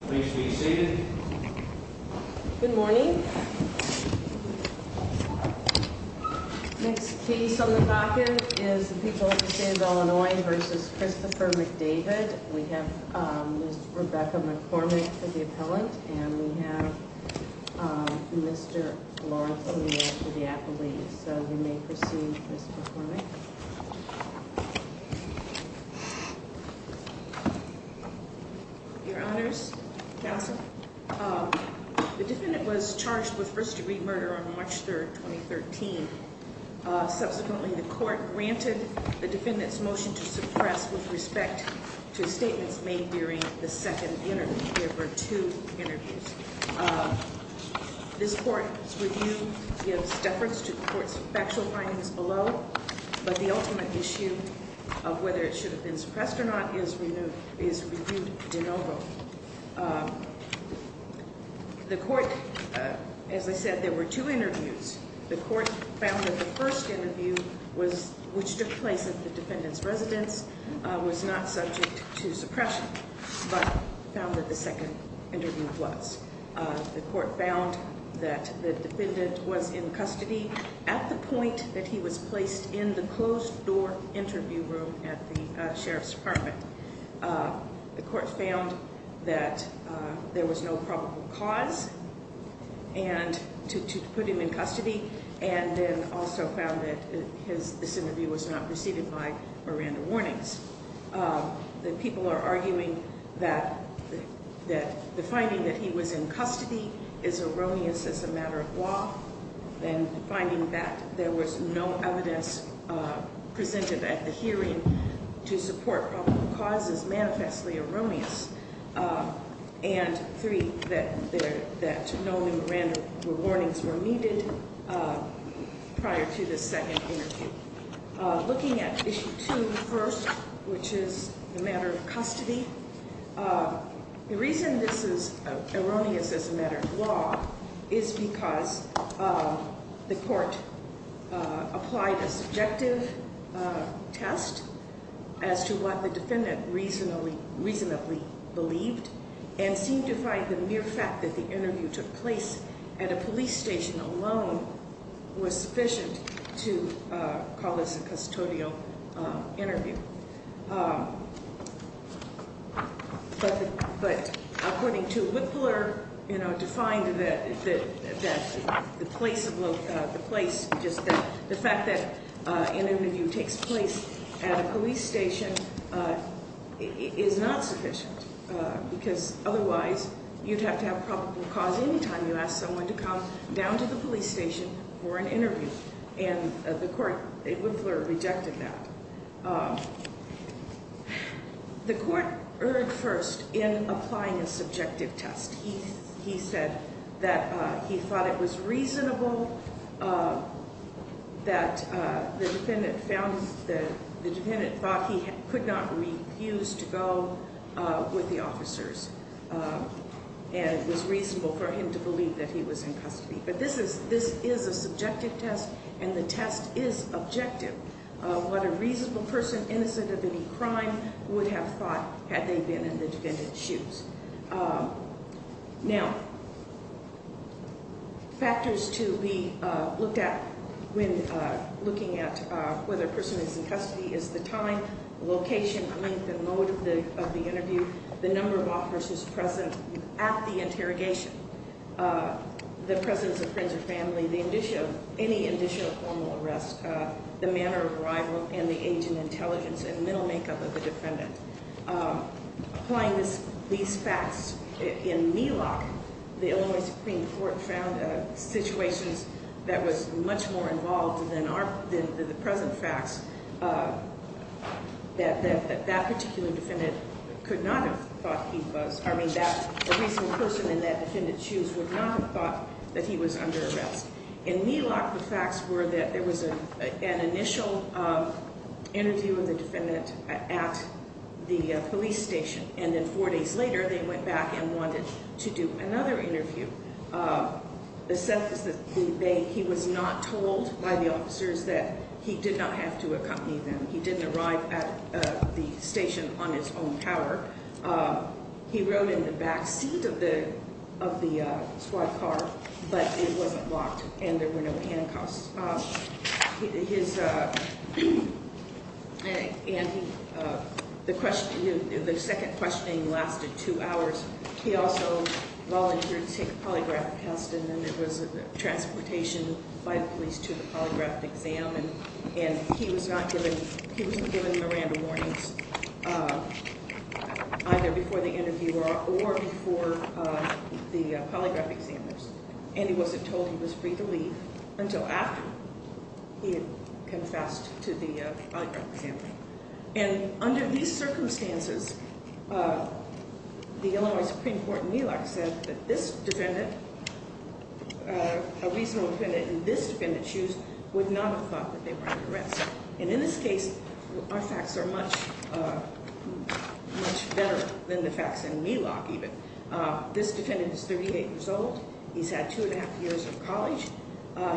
Please be seated. Good morning. Next piece on the pocket is people in Illinois versus Christopher McDavid. We have, um, Rebecca McCormick for the appellant and we have, um, Mr Lawrence for the Applebee's. So you may proceed. Mr. McCormick. Your honors. The defendant was charged with first degree murder on March 3rd, 2013. Subsequently, the court granted the defendant's motion to suppress with respect to statements made during the second interview. There were two interviews. Um, this court's review gives deference to the court's factual findings below, but the ultimate issue of whether it should have been suppressed or not is renewed, is reviewed de novo. Um, the court, as I said, there were two interviews. The court found that the first interview was which took place at the defendant's residence was not subject to suppression, but found that the second interview was. The court found that the defendant was in custody at the point that he was placed in the closed door interview room at the Sheriff's Department. The court found that there was no probable cause and to put him in custody and then also found that his this interview was not preceded by Miranda warnings. Um, the people are arguing that that the finding that he was in custody is erroneous as a matter of law and finding that there was no evidence presented at the hearing to support probable causes, manifestly erroneous. Uh, and three that there that no Miranda warnings were needed, uh, prior to the second interview. Looking at issue two first, which is a matter of custody. Uh, the reason this is erroneous as a matter of law is because, uh, the court, uh, applied a subjective, uh, test as to what the defendant reasonably reasonably believed and seemed to find the mere fact that the interview took place at to, uh, call this a custodial, uh, interview. Um, but, but according to Whittler, you know, defined that the place of the place, just the fact that, uh, an interview takes place at a police station, uh, is not sufficient because otherwise you'd have to have probable cause. Anytime you ask someone to come down to the police station for an interview, uh, the court, Whittler rejected that, uh, the court erred first in applying a subjective test. He said that he thought it was reasonable, uh, that, uh, the defendant found that the defendant thought he could not refuse to go with the officers. Uh, and it was reasonable for him to believe that he is objective. What a reasonable person innocent of any crime would have thought had they been in the defendant's shoes. Uh, now factors to be looked at when looking at whether a person is in custody is the time, location, length and mode of the of the interview. The number of officers present at the interrogation, uh, the presence of friends or family, the addition of any additional formal arrest, uh, the manner of arrival and the agent intelligence and mental makeup of the defendant. Um, applying this these facts in Milok, the Illinois Supreme Court found situations that was much more involved than our than the present facts. Uh, that that that particular defendant could not have thought he was. I mean, that the recent person in that defendant shoes would not have thought that he was under arrest in Milok. The facts were that there was an initial, uh, interview of the defendant at the police station. And then four days later, they went back and wanted to do another interview. Uh, the sense that he was not told by the officers that he did not have to accompany them. He didn't arrive at the station on his own power. Uh, he wrote in the back seat of the of the squad car, but it wasn't blocked and there were no handcuffs. Uh, his, uh, and he, uh, the question, the second questioning lasted two hours. He also volunteered to take a polygraph test, and then it was transportation by the police to the polygraph exam. And he was not given. He was given Miranda warnings, uh, either before the interview or or before the polygraph examiners. And he wasn't told he was free to leave until after he confessed to the polygraph exam. And under these circumstances, uh, the Illinois Supreme Court in Milok said that this defendant, uh, a reasonable defendant in this defendant's shoes would not have thought that they were under arrest. And in this case, our facts are much, uh, much better than the facts in Milok. Even this defendant is 38 years old. He's had 2.5 years of college.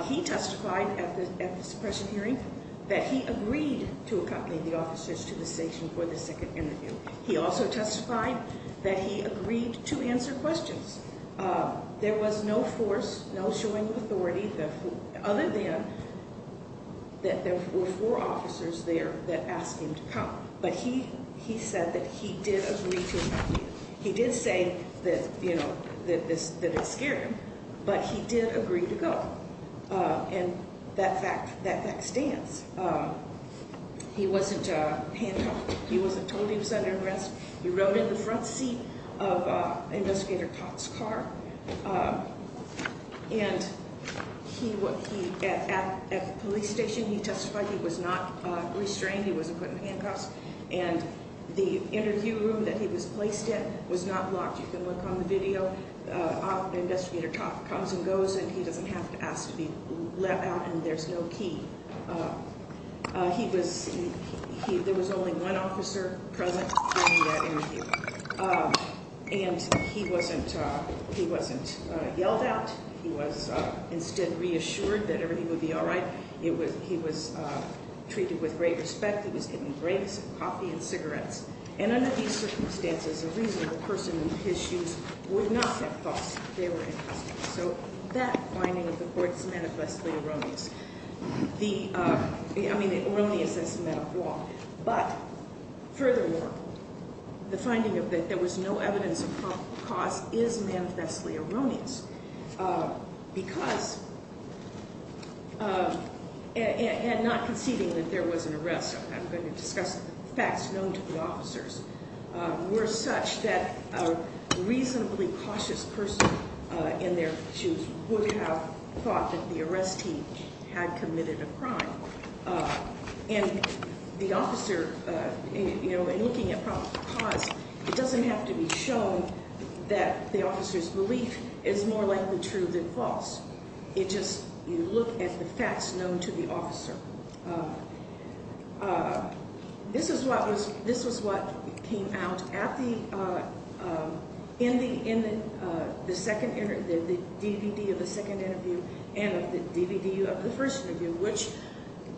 He testified at the suppression hearing that he agreed to accompany the officers to the station for the second interview. He also testified that he agreed to answer questions. Uh, there was no force, no showing authority other than that there were four officers there that asked him to come. But he he said that he did agree to him. He did say that, you know, that this that it scared him, but he did agree to go. Uh, and that fact that that stands, uh, he wasn't a handcuffed. He wasn't told he was under arrest. He rode in the front seat of investigator Cox car. Uh, and he was at the police station. He interview room that he was placed in was not blocked. You can look on the video. Uh, investigator comes and goes, and he doesn't have to ask to be let out. And there's no key. Uh, he was. There was only one officer present. Uh, and he wasn't. He wasn't yelled out. He was instead reassured that everything would be all right. It was. He was treated with great respect. He was given grapes, coffee and cigarettes. And under these circumstances, a reasonable person in his shoes would not have thought they were. So that finding of the courts manifestly erroneous. The, uh, I mean, erroneous as a matter of law, but furthermore, the finding of that there was no evidence of cost is manifestly erroneous. Uh, because, uh, and not conceiving that there was an arrest. I'm going to discuss facts known to the officers were such that a reasonably cautious person in their shoes would have thought that the arrestee had committed a crime. Uh, and the officer, uh, you know, and looking at problem cause, it doesn't have to be shown that the officer's belief is more likely true than false. It just you look at the facts known to the officer. Uh, uh, this is what was this was what came out at the, uh, in the in the second, the DVD of the second interview and the DVD of the first interview, which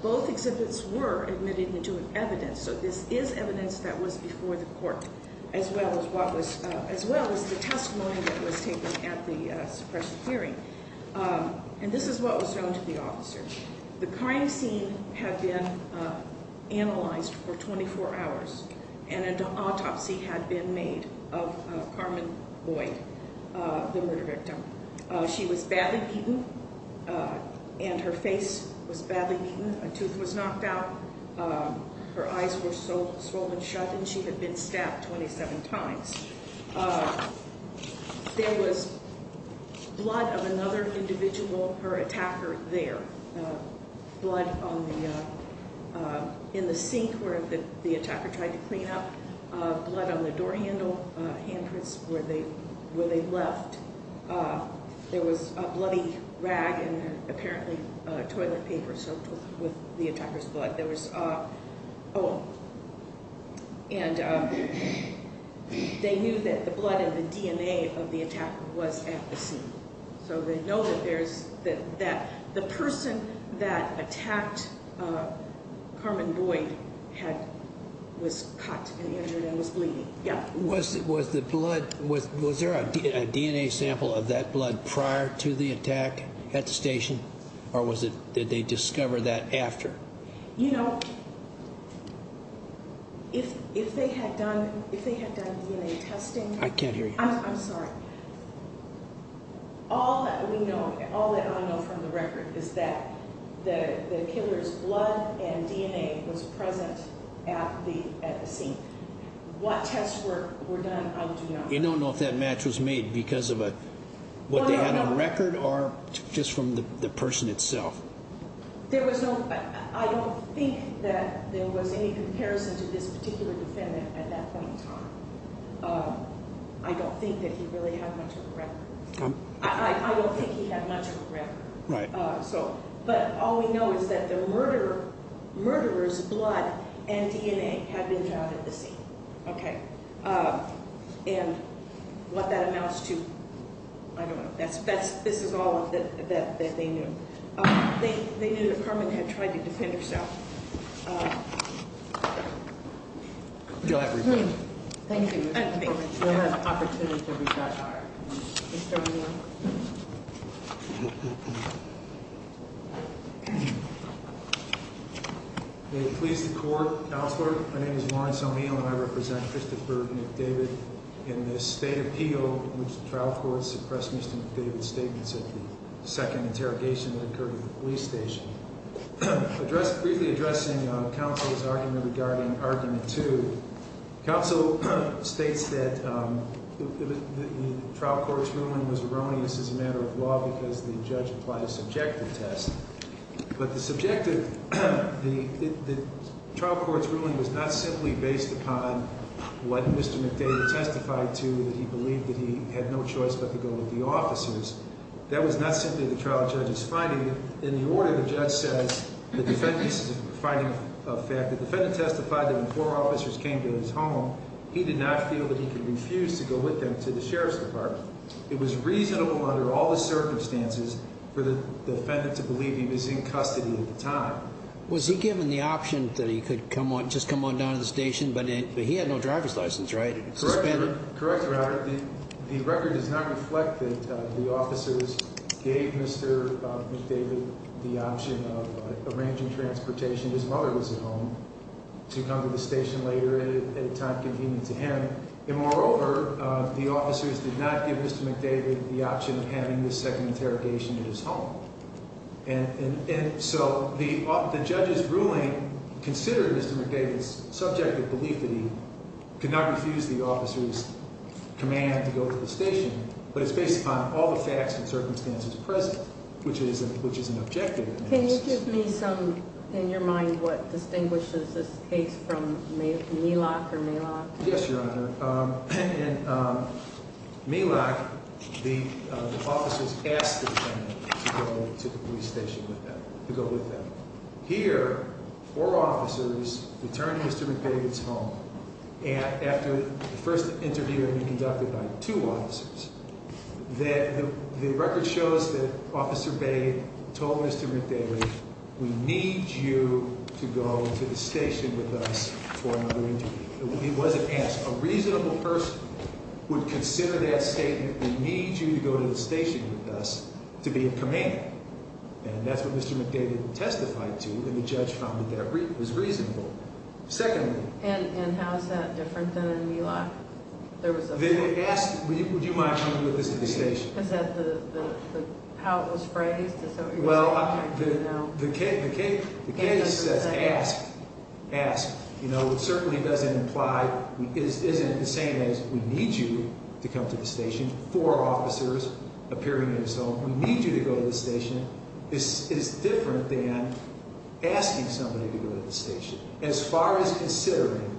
both exhibits were admitted into an evidence. So this is evidence that was before the court as well as what was as well as the testimony that was taken at the suppression hearing. Um, and this is what was shown to the officers. The crime scene had been, uh, analyzed for 24 hours and an autopsy had been made of Carmen Boyd, the murder victim. She was badly beaten. Uh, and her face was badly beaten. A tooth was knocked out. Um, her eyes were so swollen shut and she had been stabbed 27 times. Uh, there was blood of another individual, her attacker, their, uh, blood on the, uh, in the sink where the attacker tried to clean up blood on the door handle handprints where they where they left. Uh, there was a bloody rag and apparently toilet paper soaked with the attacker's blood. There was, uh, oh, and, uh, they knew that the blood and the DNA of the attack was at the scene. So they know that there's that the person that attacked, uh, Carmen Boyd had was cut and injured and was bleeding. Yeah. Was it was the blood with? Was there a DNA sample of that blood prior to the attack at the station? Or was it that they discover that after, you know, if, if they had done, if they had done DNA testing, I can't hear you. I'm sorry. All we know, all that I know from the record is that the killer's blood and DNA was present at the scene. What tests were done? You don't know if that match was made because of what they had on record or just from the person itself. There was no, I don't think that there was any comparison to this particular defendant at that point in time. Um, I don't think that he really had much of a record. I don't think he had much of a record. So, but all we know is that the murder murderers blood and DNA had been found at the scene. Okay. Uh, and what that amounts to. I don't Carmen had tried to defend herself. Go ahead. Thank you. Please. The court. My name is Lawrence. I mean, I represent Christopher David in this state appeal trial for suppressing statements of the second interrogation that occurred at the police station address. Briefly addressing counsel's argument regarding argument to counsel states that trial court's ruling was erroneous as a matter of law because the judge applied a subjective test. But the subjective, the trial court's ruling was not simply based upon what Mr McDade testified to that he believed that he had no choice but to go with the officers. That was not simply the judge's finding. In the order, the judge says the defendant's finding of fact, the defendant testified that when four officers came to his home, he did not feel that he could refuse to go with them to the sheriff's department. It was reasonable under all the circumstances for the defendant to believe he was in custody at the time. Was he given the option that he could come on, just come on down to the station, but he had no driver's license, right? Correct. Correct. The record does not reflect that the officers gave Mr McDade the option of arranging transportation. His mother was at home to come to the station later at a time convenient to him. And moreover, the officers did not give Mr McDade the option of having the second interrogation at his home. And so the judges ruling considered Mr McDade's subjective belief that he could not refuse the officer's command to go to station. But it's based upon all the facts and circumstances present, which is, which is an objective. Can you give me some in your mind? What distinguishes this case from Mila or Mila? Yes, Your Honor. Um, um, Mila, the officers asked to the police station with them to go with them here. Four officers returned to his home after the first interview conducted by two officers that the record shows that Officer Bay told Mr McDade, We need you to go to the station with us for another interview. It wasn't as a reasonable person would consider that statement. We need you to go to the station with us to be a command. And that's what Mr McDade testified to. And the judge found that it was reasonable. Secondly, and how is that different than in Mila? There was a big ask. Would you mind coming with this at the station? Is that the how it was phrased? Well, the kid, the kid says, ask, ask. You know, it certainly doesn't imply is isn't the same as we need you to come to the station for officers appearing in his home. We need you to go to the station. This is different than asking somebody to go to the station as far as considering,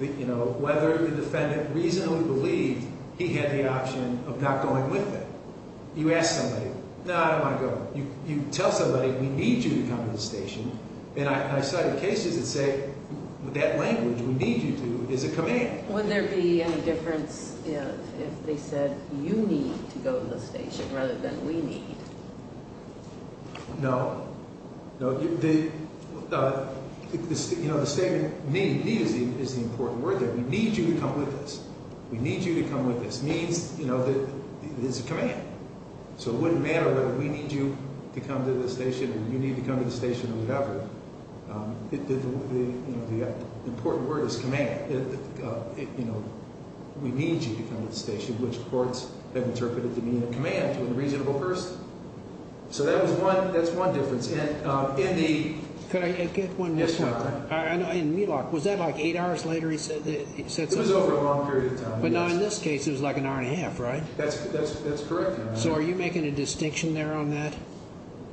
you know, whether the defendant reasonably believed he had the option of not going with it. You ask somebody, no, I don't want to go. You tell somebody we need you to come to the station. And I cited cases that say that language we need you to is a command. Would there be any difference if they said you need to go to the station rather than we need? No, no, the, uh, you know, the statement need is the important word that we need you to come with this. We need you to come with this means, you know, that is a command. So it wouldn't matter whether we need you to come to the station and you need to come to the station or whatever. Um, the important word is command. Uh, you know, we need you to come to the station, which courts have so that was one. That's one difference. And, uh, in the could I get one? Yes, sir. I know. In New York was that like eight hours later, he said it was over a long period of time. But now, in this case, it was like an hour and a half, right? That's that's correct. So are you making a distinction there on that?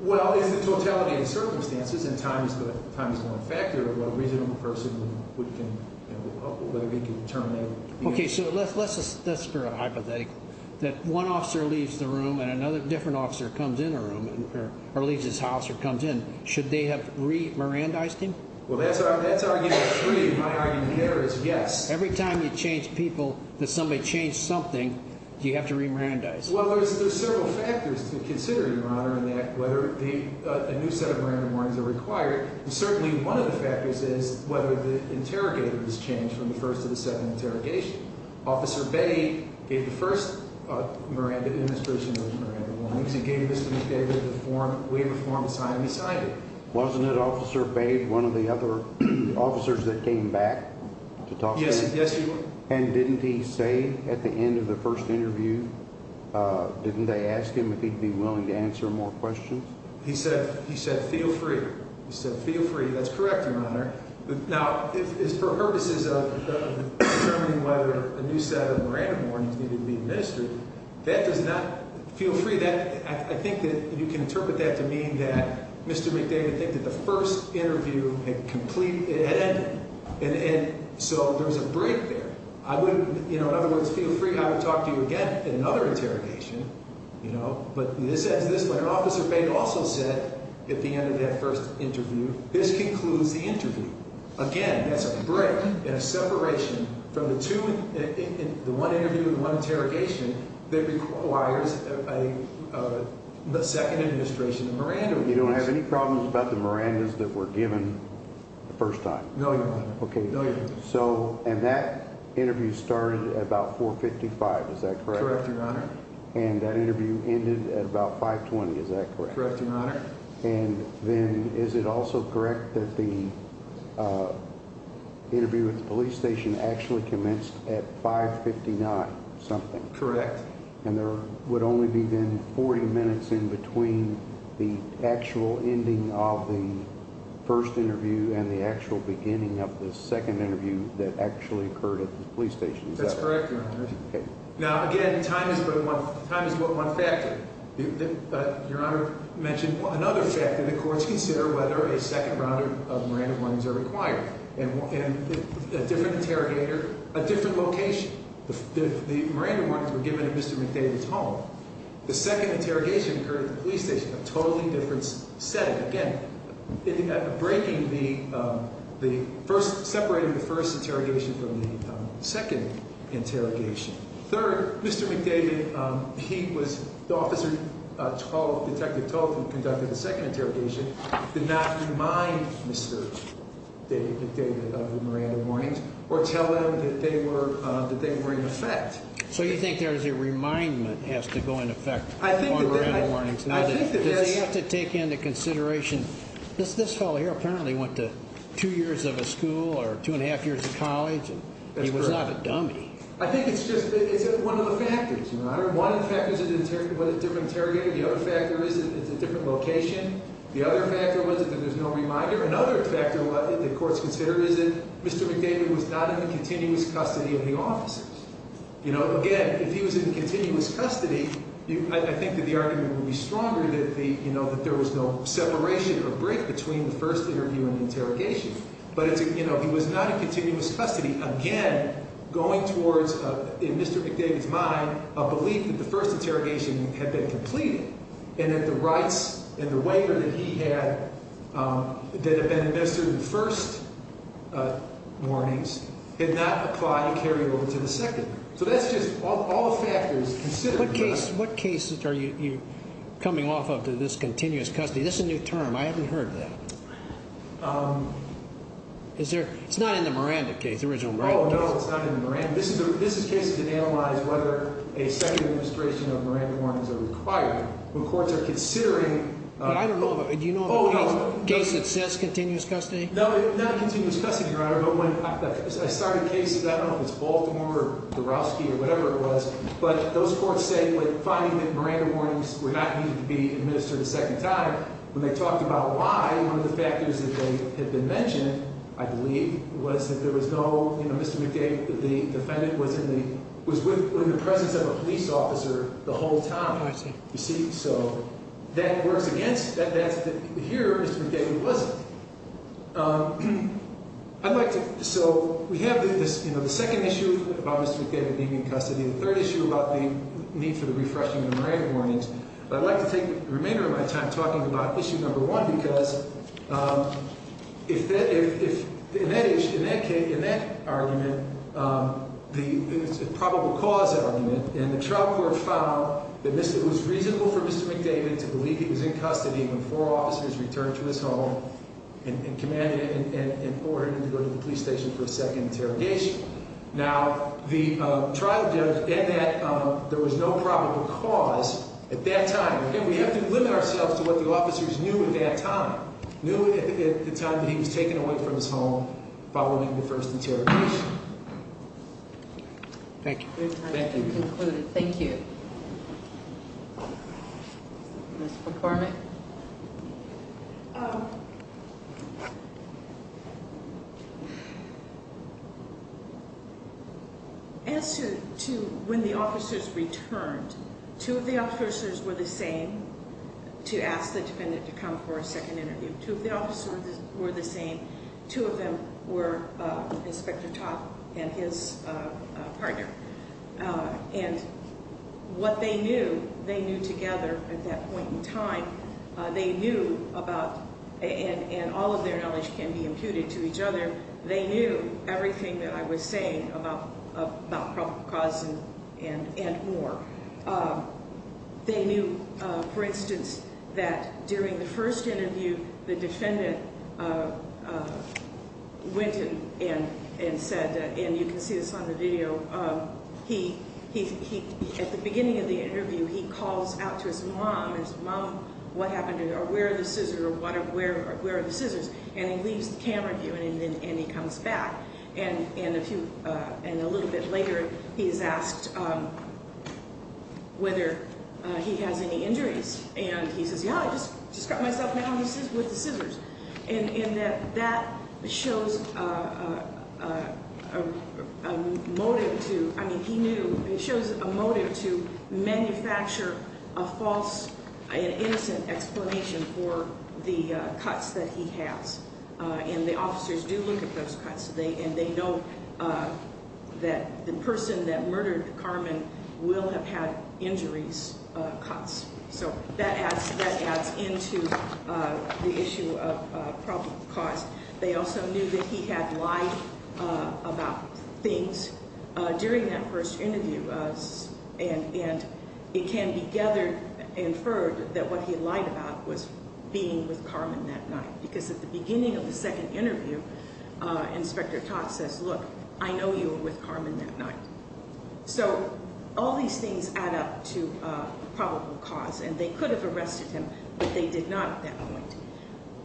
Well, is the totality of circumstances and time is the time is one factor of what a reasonable person would can, you know, whether he could turn that. Okay, so let's let's let's for a hypothetical that one officer leaves the room and another different officer comes in a room or leaves his house or comes in. Should they have re Miranda iced him? Well, that's that's arguing three. My argument here is yes. Every time you change people that somebody changed something, you have to remand eyes. Well, there's several factors to consider your honor and that whether the new set of Miranda warnings are required. Certainly one of the factors is whether the interrogator has changed from the 1st of the second interrogation. Officer Betty gave the Miranda in this person gave this form. We have a form sign beside it. Wasn't it officer paid one of the other officers that came back to talk? Yes. Yes. And didn't he say at the end of the first interview? Uh, didn't they ask him if he'd be willing to answer more questions? He said, He said, Feel free. He said, Feel free. That's correct, Your Honor. Now, it's for purposes of determining whether a new set of Miranda warnings needed to be administered. That does not feel free that I think that you can interpret that to mean that Mr McDavid think that the first interview and complete it. And so there's a break there. I would, you know, in other words, feel free. I would talk to you again. Another interrogation, you know, but this is this way. An officer also said at the end of that first interview, this break in a separation from the two. The one interview, one interrogation that requires, uh, the second administration Miranda. You don't have any problems about the Miranda's that were given the first time. Okay, so and that interview started about 4 55. Is that correct? And that interview ended at about 5 20. Is that correct? And then is it also correct that the, uh, interview with the police station actually commenced at 5 59 something correct? And there would only be then 40 minutes in between the actual ending of the first interview and the actual beginning of the second interview that actually occurred at the police station. That's correct. Now again, time is but one factor. Your honor mentioned another factor. The courts consider whether a second round of Miranda ones are required and a different interrogator a different location. The Miranda ones were given to Mr McDavid's home. The second interrogation occurred at the police station, a totally different setting again, breaking the first, separating the first interrogation from the second interrogation. Third, Mr McDavid. He was the officer 12 detective told him conducted the second interrogation. Did not remind Mr David McDavid of the Miranda warnings or tell them that they were that they were in effect. So you think there is a remindment has to go in effect? I think that we're in the warnings. I think that they have to take into consideration this. This fellow here apparently went to two years of a school or 2.5 years college and he was not a dummy. I think it's just it's one of the factors, your honor. One of the factors of the different interrogator. The other factor is it's a different location. The other factor was that there's no reminder. Another factor that courts consider is that Mr McDavid was not in the continuous custody of the officers. You know, again, if he was in continuous custody, I think that the argument will be stronger that the you know that there was no separation or break between the first interview and custody. Again, going towards in Mr McDavid's mind, a belief that the first interrogation had been completed and that the rights and the waiver that he had, um, that have been invested in the first, uh, warnings did not apply to carry it over to the second. So that's just all the factors. What case? What cases are you coming off of to this continuous custody? This is a new term. I haven't heard that. Um, is there? It's not in the Miranda case. Original. No, it's not in the Miranda. This is this is cases that analyze whether a second administration of Miranda warnings are required when courts are considering. But I don't know. Do you know? Does it says continuous custody? No, not continuous custody, your honor. But when I started cases, I don't know if it's Baltimore or the Roski or whatever it was. But those courts say, like, finding that Miranda warnings were not needed to be administered a second time when they talked about why one of the factors that had been mentioned, I believe, was that there was no, you know, Mr McDavid, the defendant was in the was with the presence of a police officer the whole time. You see? So that works against that. That's here. It was, um, I'd like to. So we have this, you know, the second issue about Mr David being in custody. The third issue about the need for the refreshing the Miranda warnings. I'd like to take the remainder of my time talking about issue number one, because, um, if that if in that issue, in that case, in that argument, um, the probable cause argument and the trial court found that this was reasonable for Mr McDavid to believe he was in custody before officers returned to his home and commanded in order to go to the police station for a second interrogation. Now, the trial judge and that there was no cause at that time. We have to limit ourselves to what the officers knew at that time, knew at the time that he was taken away from his home following the first interrogation. Thank you. Thank you. Performing uh, answer to when the officers returned to the officers were the same to ask the defendant to come for a second interview. Two of the officers were the same. Two of them were Inspector Todd and his partner. Uh, and what they knew they knew together at that point in time they knew about and all of their knowledge can be imputed to each other. They knew everything that I was saying about about proper cause and and and more. Um, they knew, for instance, that during the first interview, the defendant, uh, went in and and said, and you can see this on the video. Um, he he at the beginning of the interview, he calls out to his mom, his mom, what happened or where the scissor water where where the scissors and he leaves the camera view and then and he comes back and and a few and a little bit later he's asked, um, whether he has any injuries and he says, Yeah, I just just got myself now. This is with the scissors and that that shows, uh, motive to. I mean, he knew it was a motive to manufacture a false, innocent explanation for the cuts that he has. Uh, and the officers do look at those cuts. They and they know, uh, that the person that murdered Carmen will have had injuries cuts. So that has that adds into the issue of problem cause. They also knew that he had lied about things during that first interview. And and it can be gathered inferred that what he lied about was being with Carmen that night because at the beginning of the second interview, uh, Inspector Todd says, Look, I know you were with Carmen that night. So all these things add up to probable cause and they could have arrested him, but they did not at that point.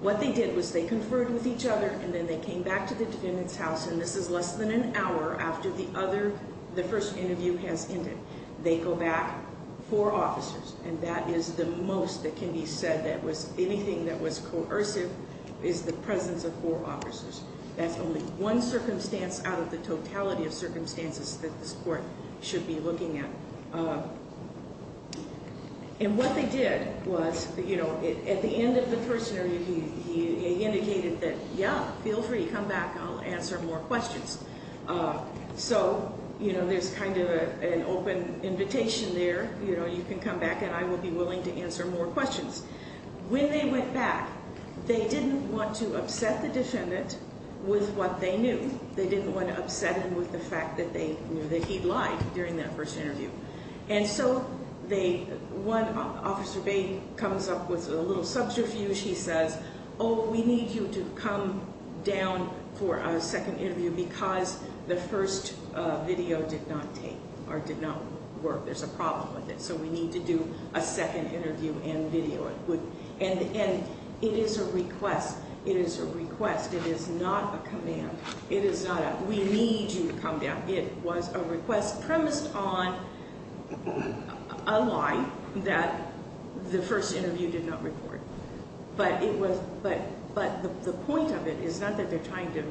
What they did was they conferred with each other and then they came back to the house. And this is less than an hour after the other. The first interview has ended. They go back for officers, and that is the most that can be said. That was anything that was coercive is the presence of four officers. That's only one circumstance out of the totality of circumstances that this court should be looking at. Uh, and what they did was, you know, at the end of the first year, he indicated that Yeah, feel free. Come back. I'll answer more questions. Uh, so, you know, there's kind of a open invitation there. You know, you can come back and I will be willing to answer more questions. When they went back, they didn't want to upset the defendant with what they knew. They didn't want to upset him with the fact that they knew that he lied during that first interview. And so they one officer baby comes up with a little subterfuge. He says, Oh, we need you to come down for a second interview because the first video did not take or did not work. There's a problem with it. So we need to do a second interview and video it would. And it is a request. It is a request. It is not a command. It is not. We need you to come down. It was a request premised on a lie that the first interview did not report. But it was but but the point of it is not that they're trying to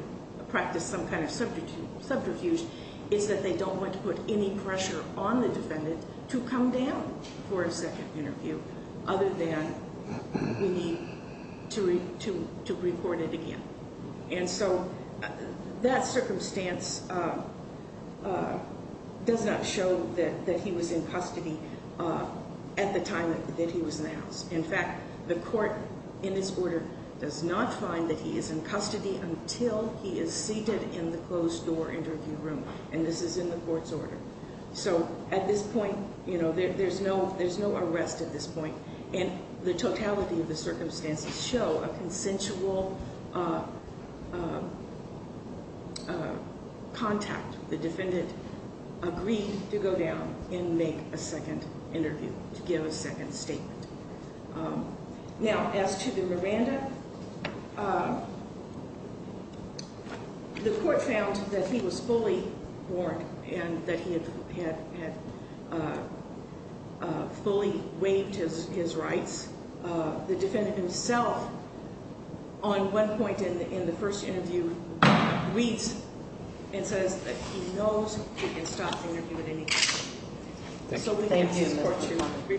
practice some kind of substitute subterfuge. It's that they don't want to put any pressure on the defendant to come down for a second interview other than we need to to to report it again. And so that circumstance, uh, does not show that he was in custody at the time that he was in the house. In fact, the court in this order does not find that he is in custody until he is seated in the closed door interview room. And this is in the court's order. So at this point, you know, there's no there's no arrest at this point. And the totality of the circumstances show a consensual, uh, uh, contact. The defendant agreed to go down and make a second interview to give a second statement. Now, as to the Miranda, uh, the court found that he was fully born and that he had had uh, fully waived his his rights. Uh, the defendant himself on one point in the first interview reads and says that he knows he can stop so we can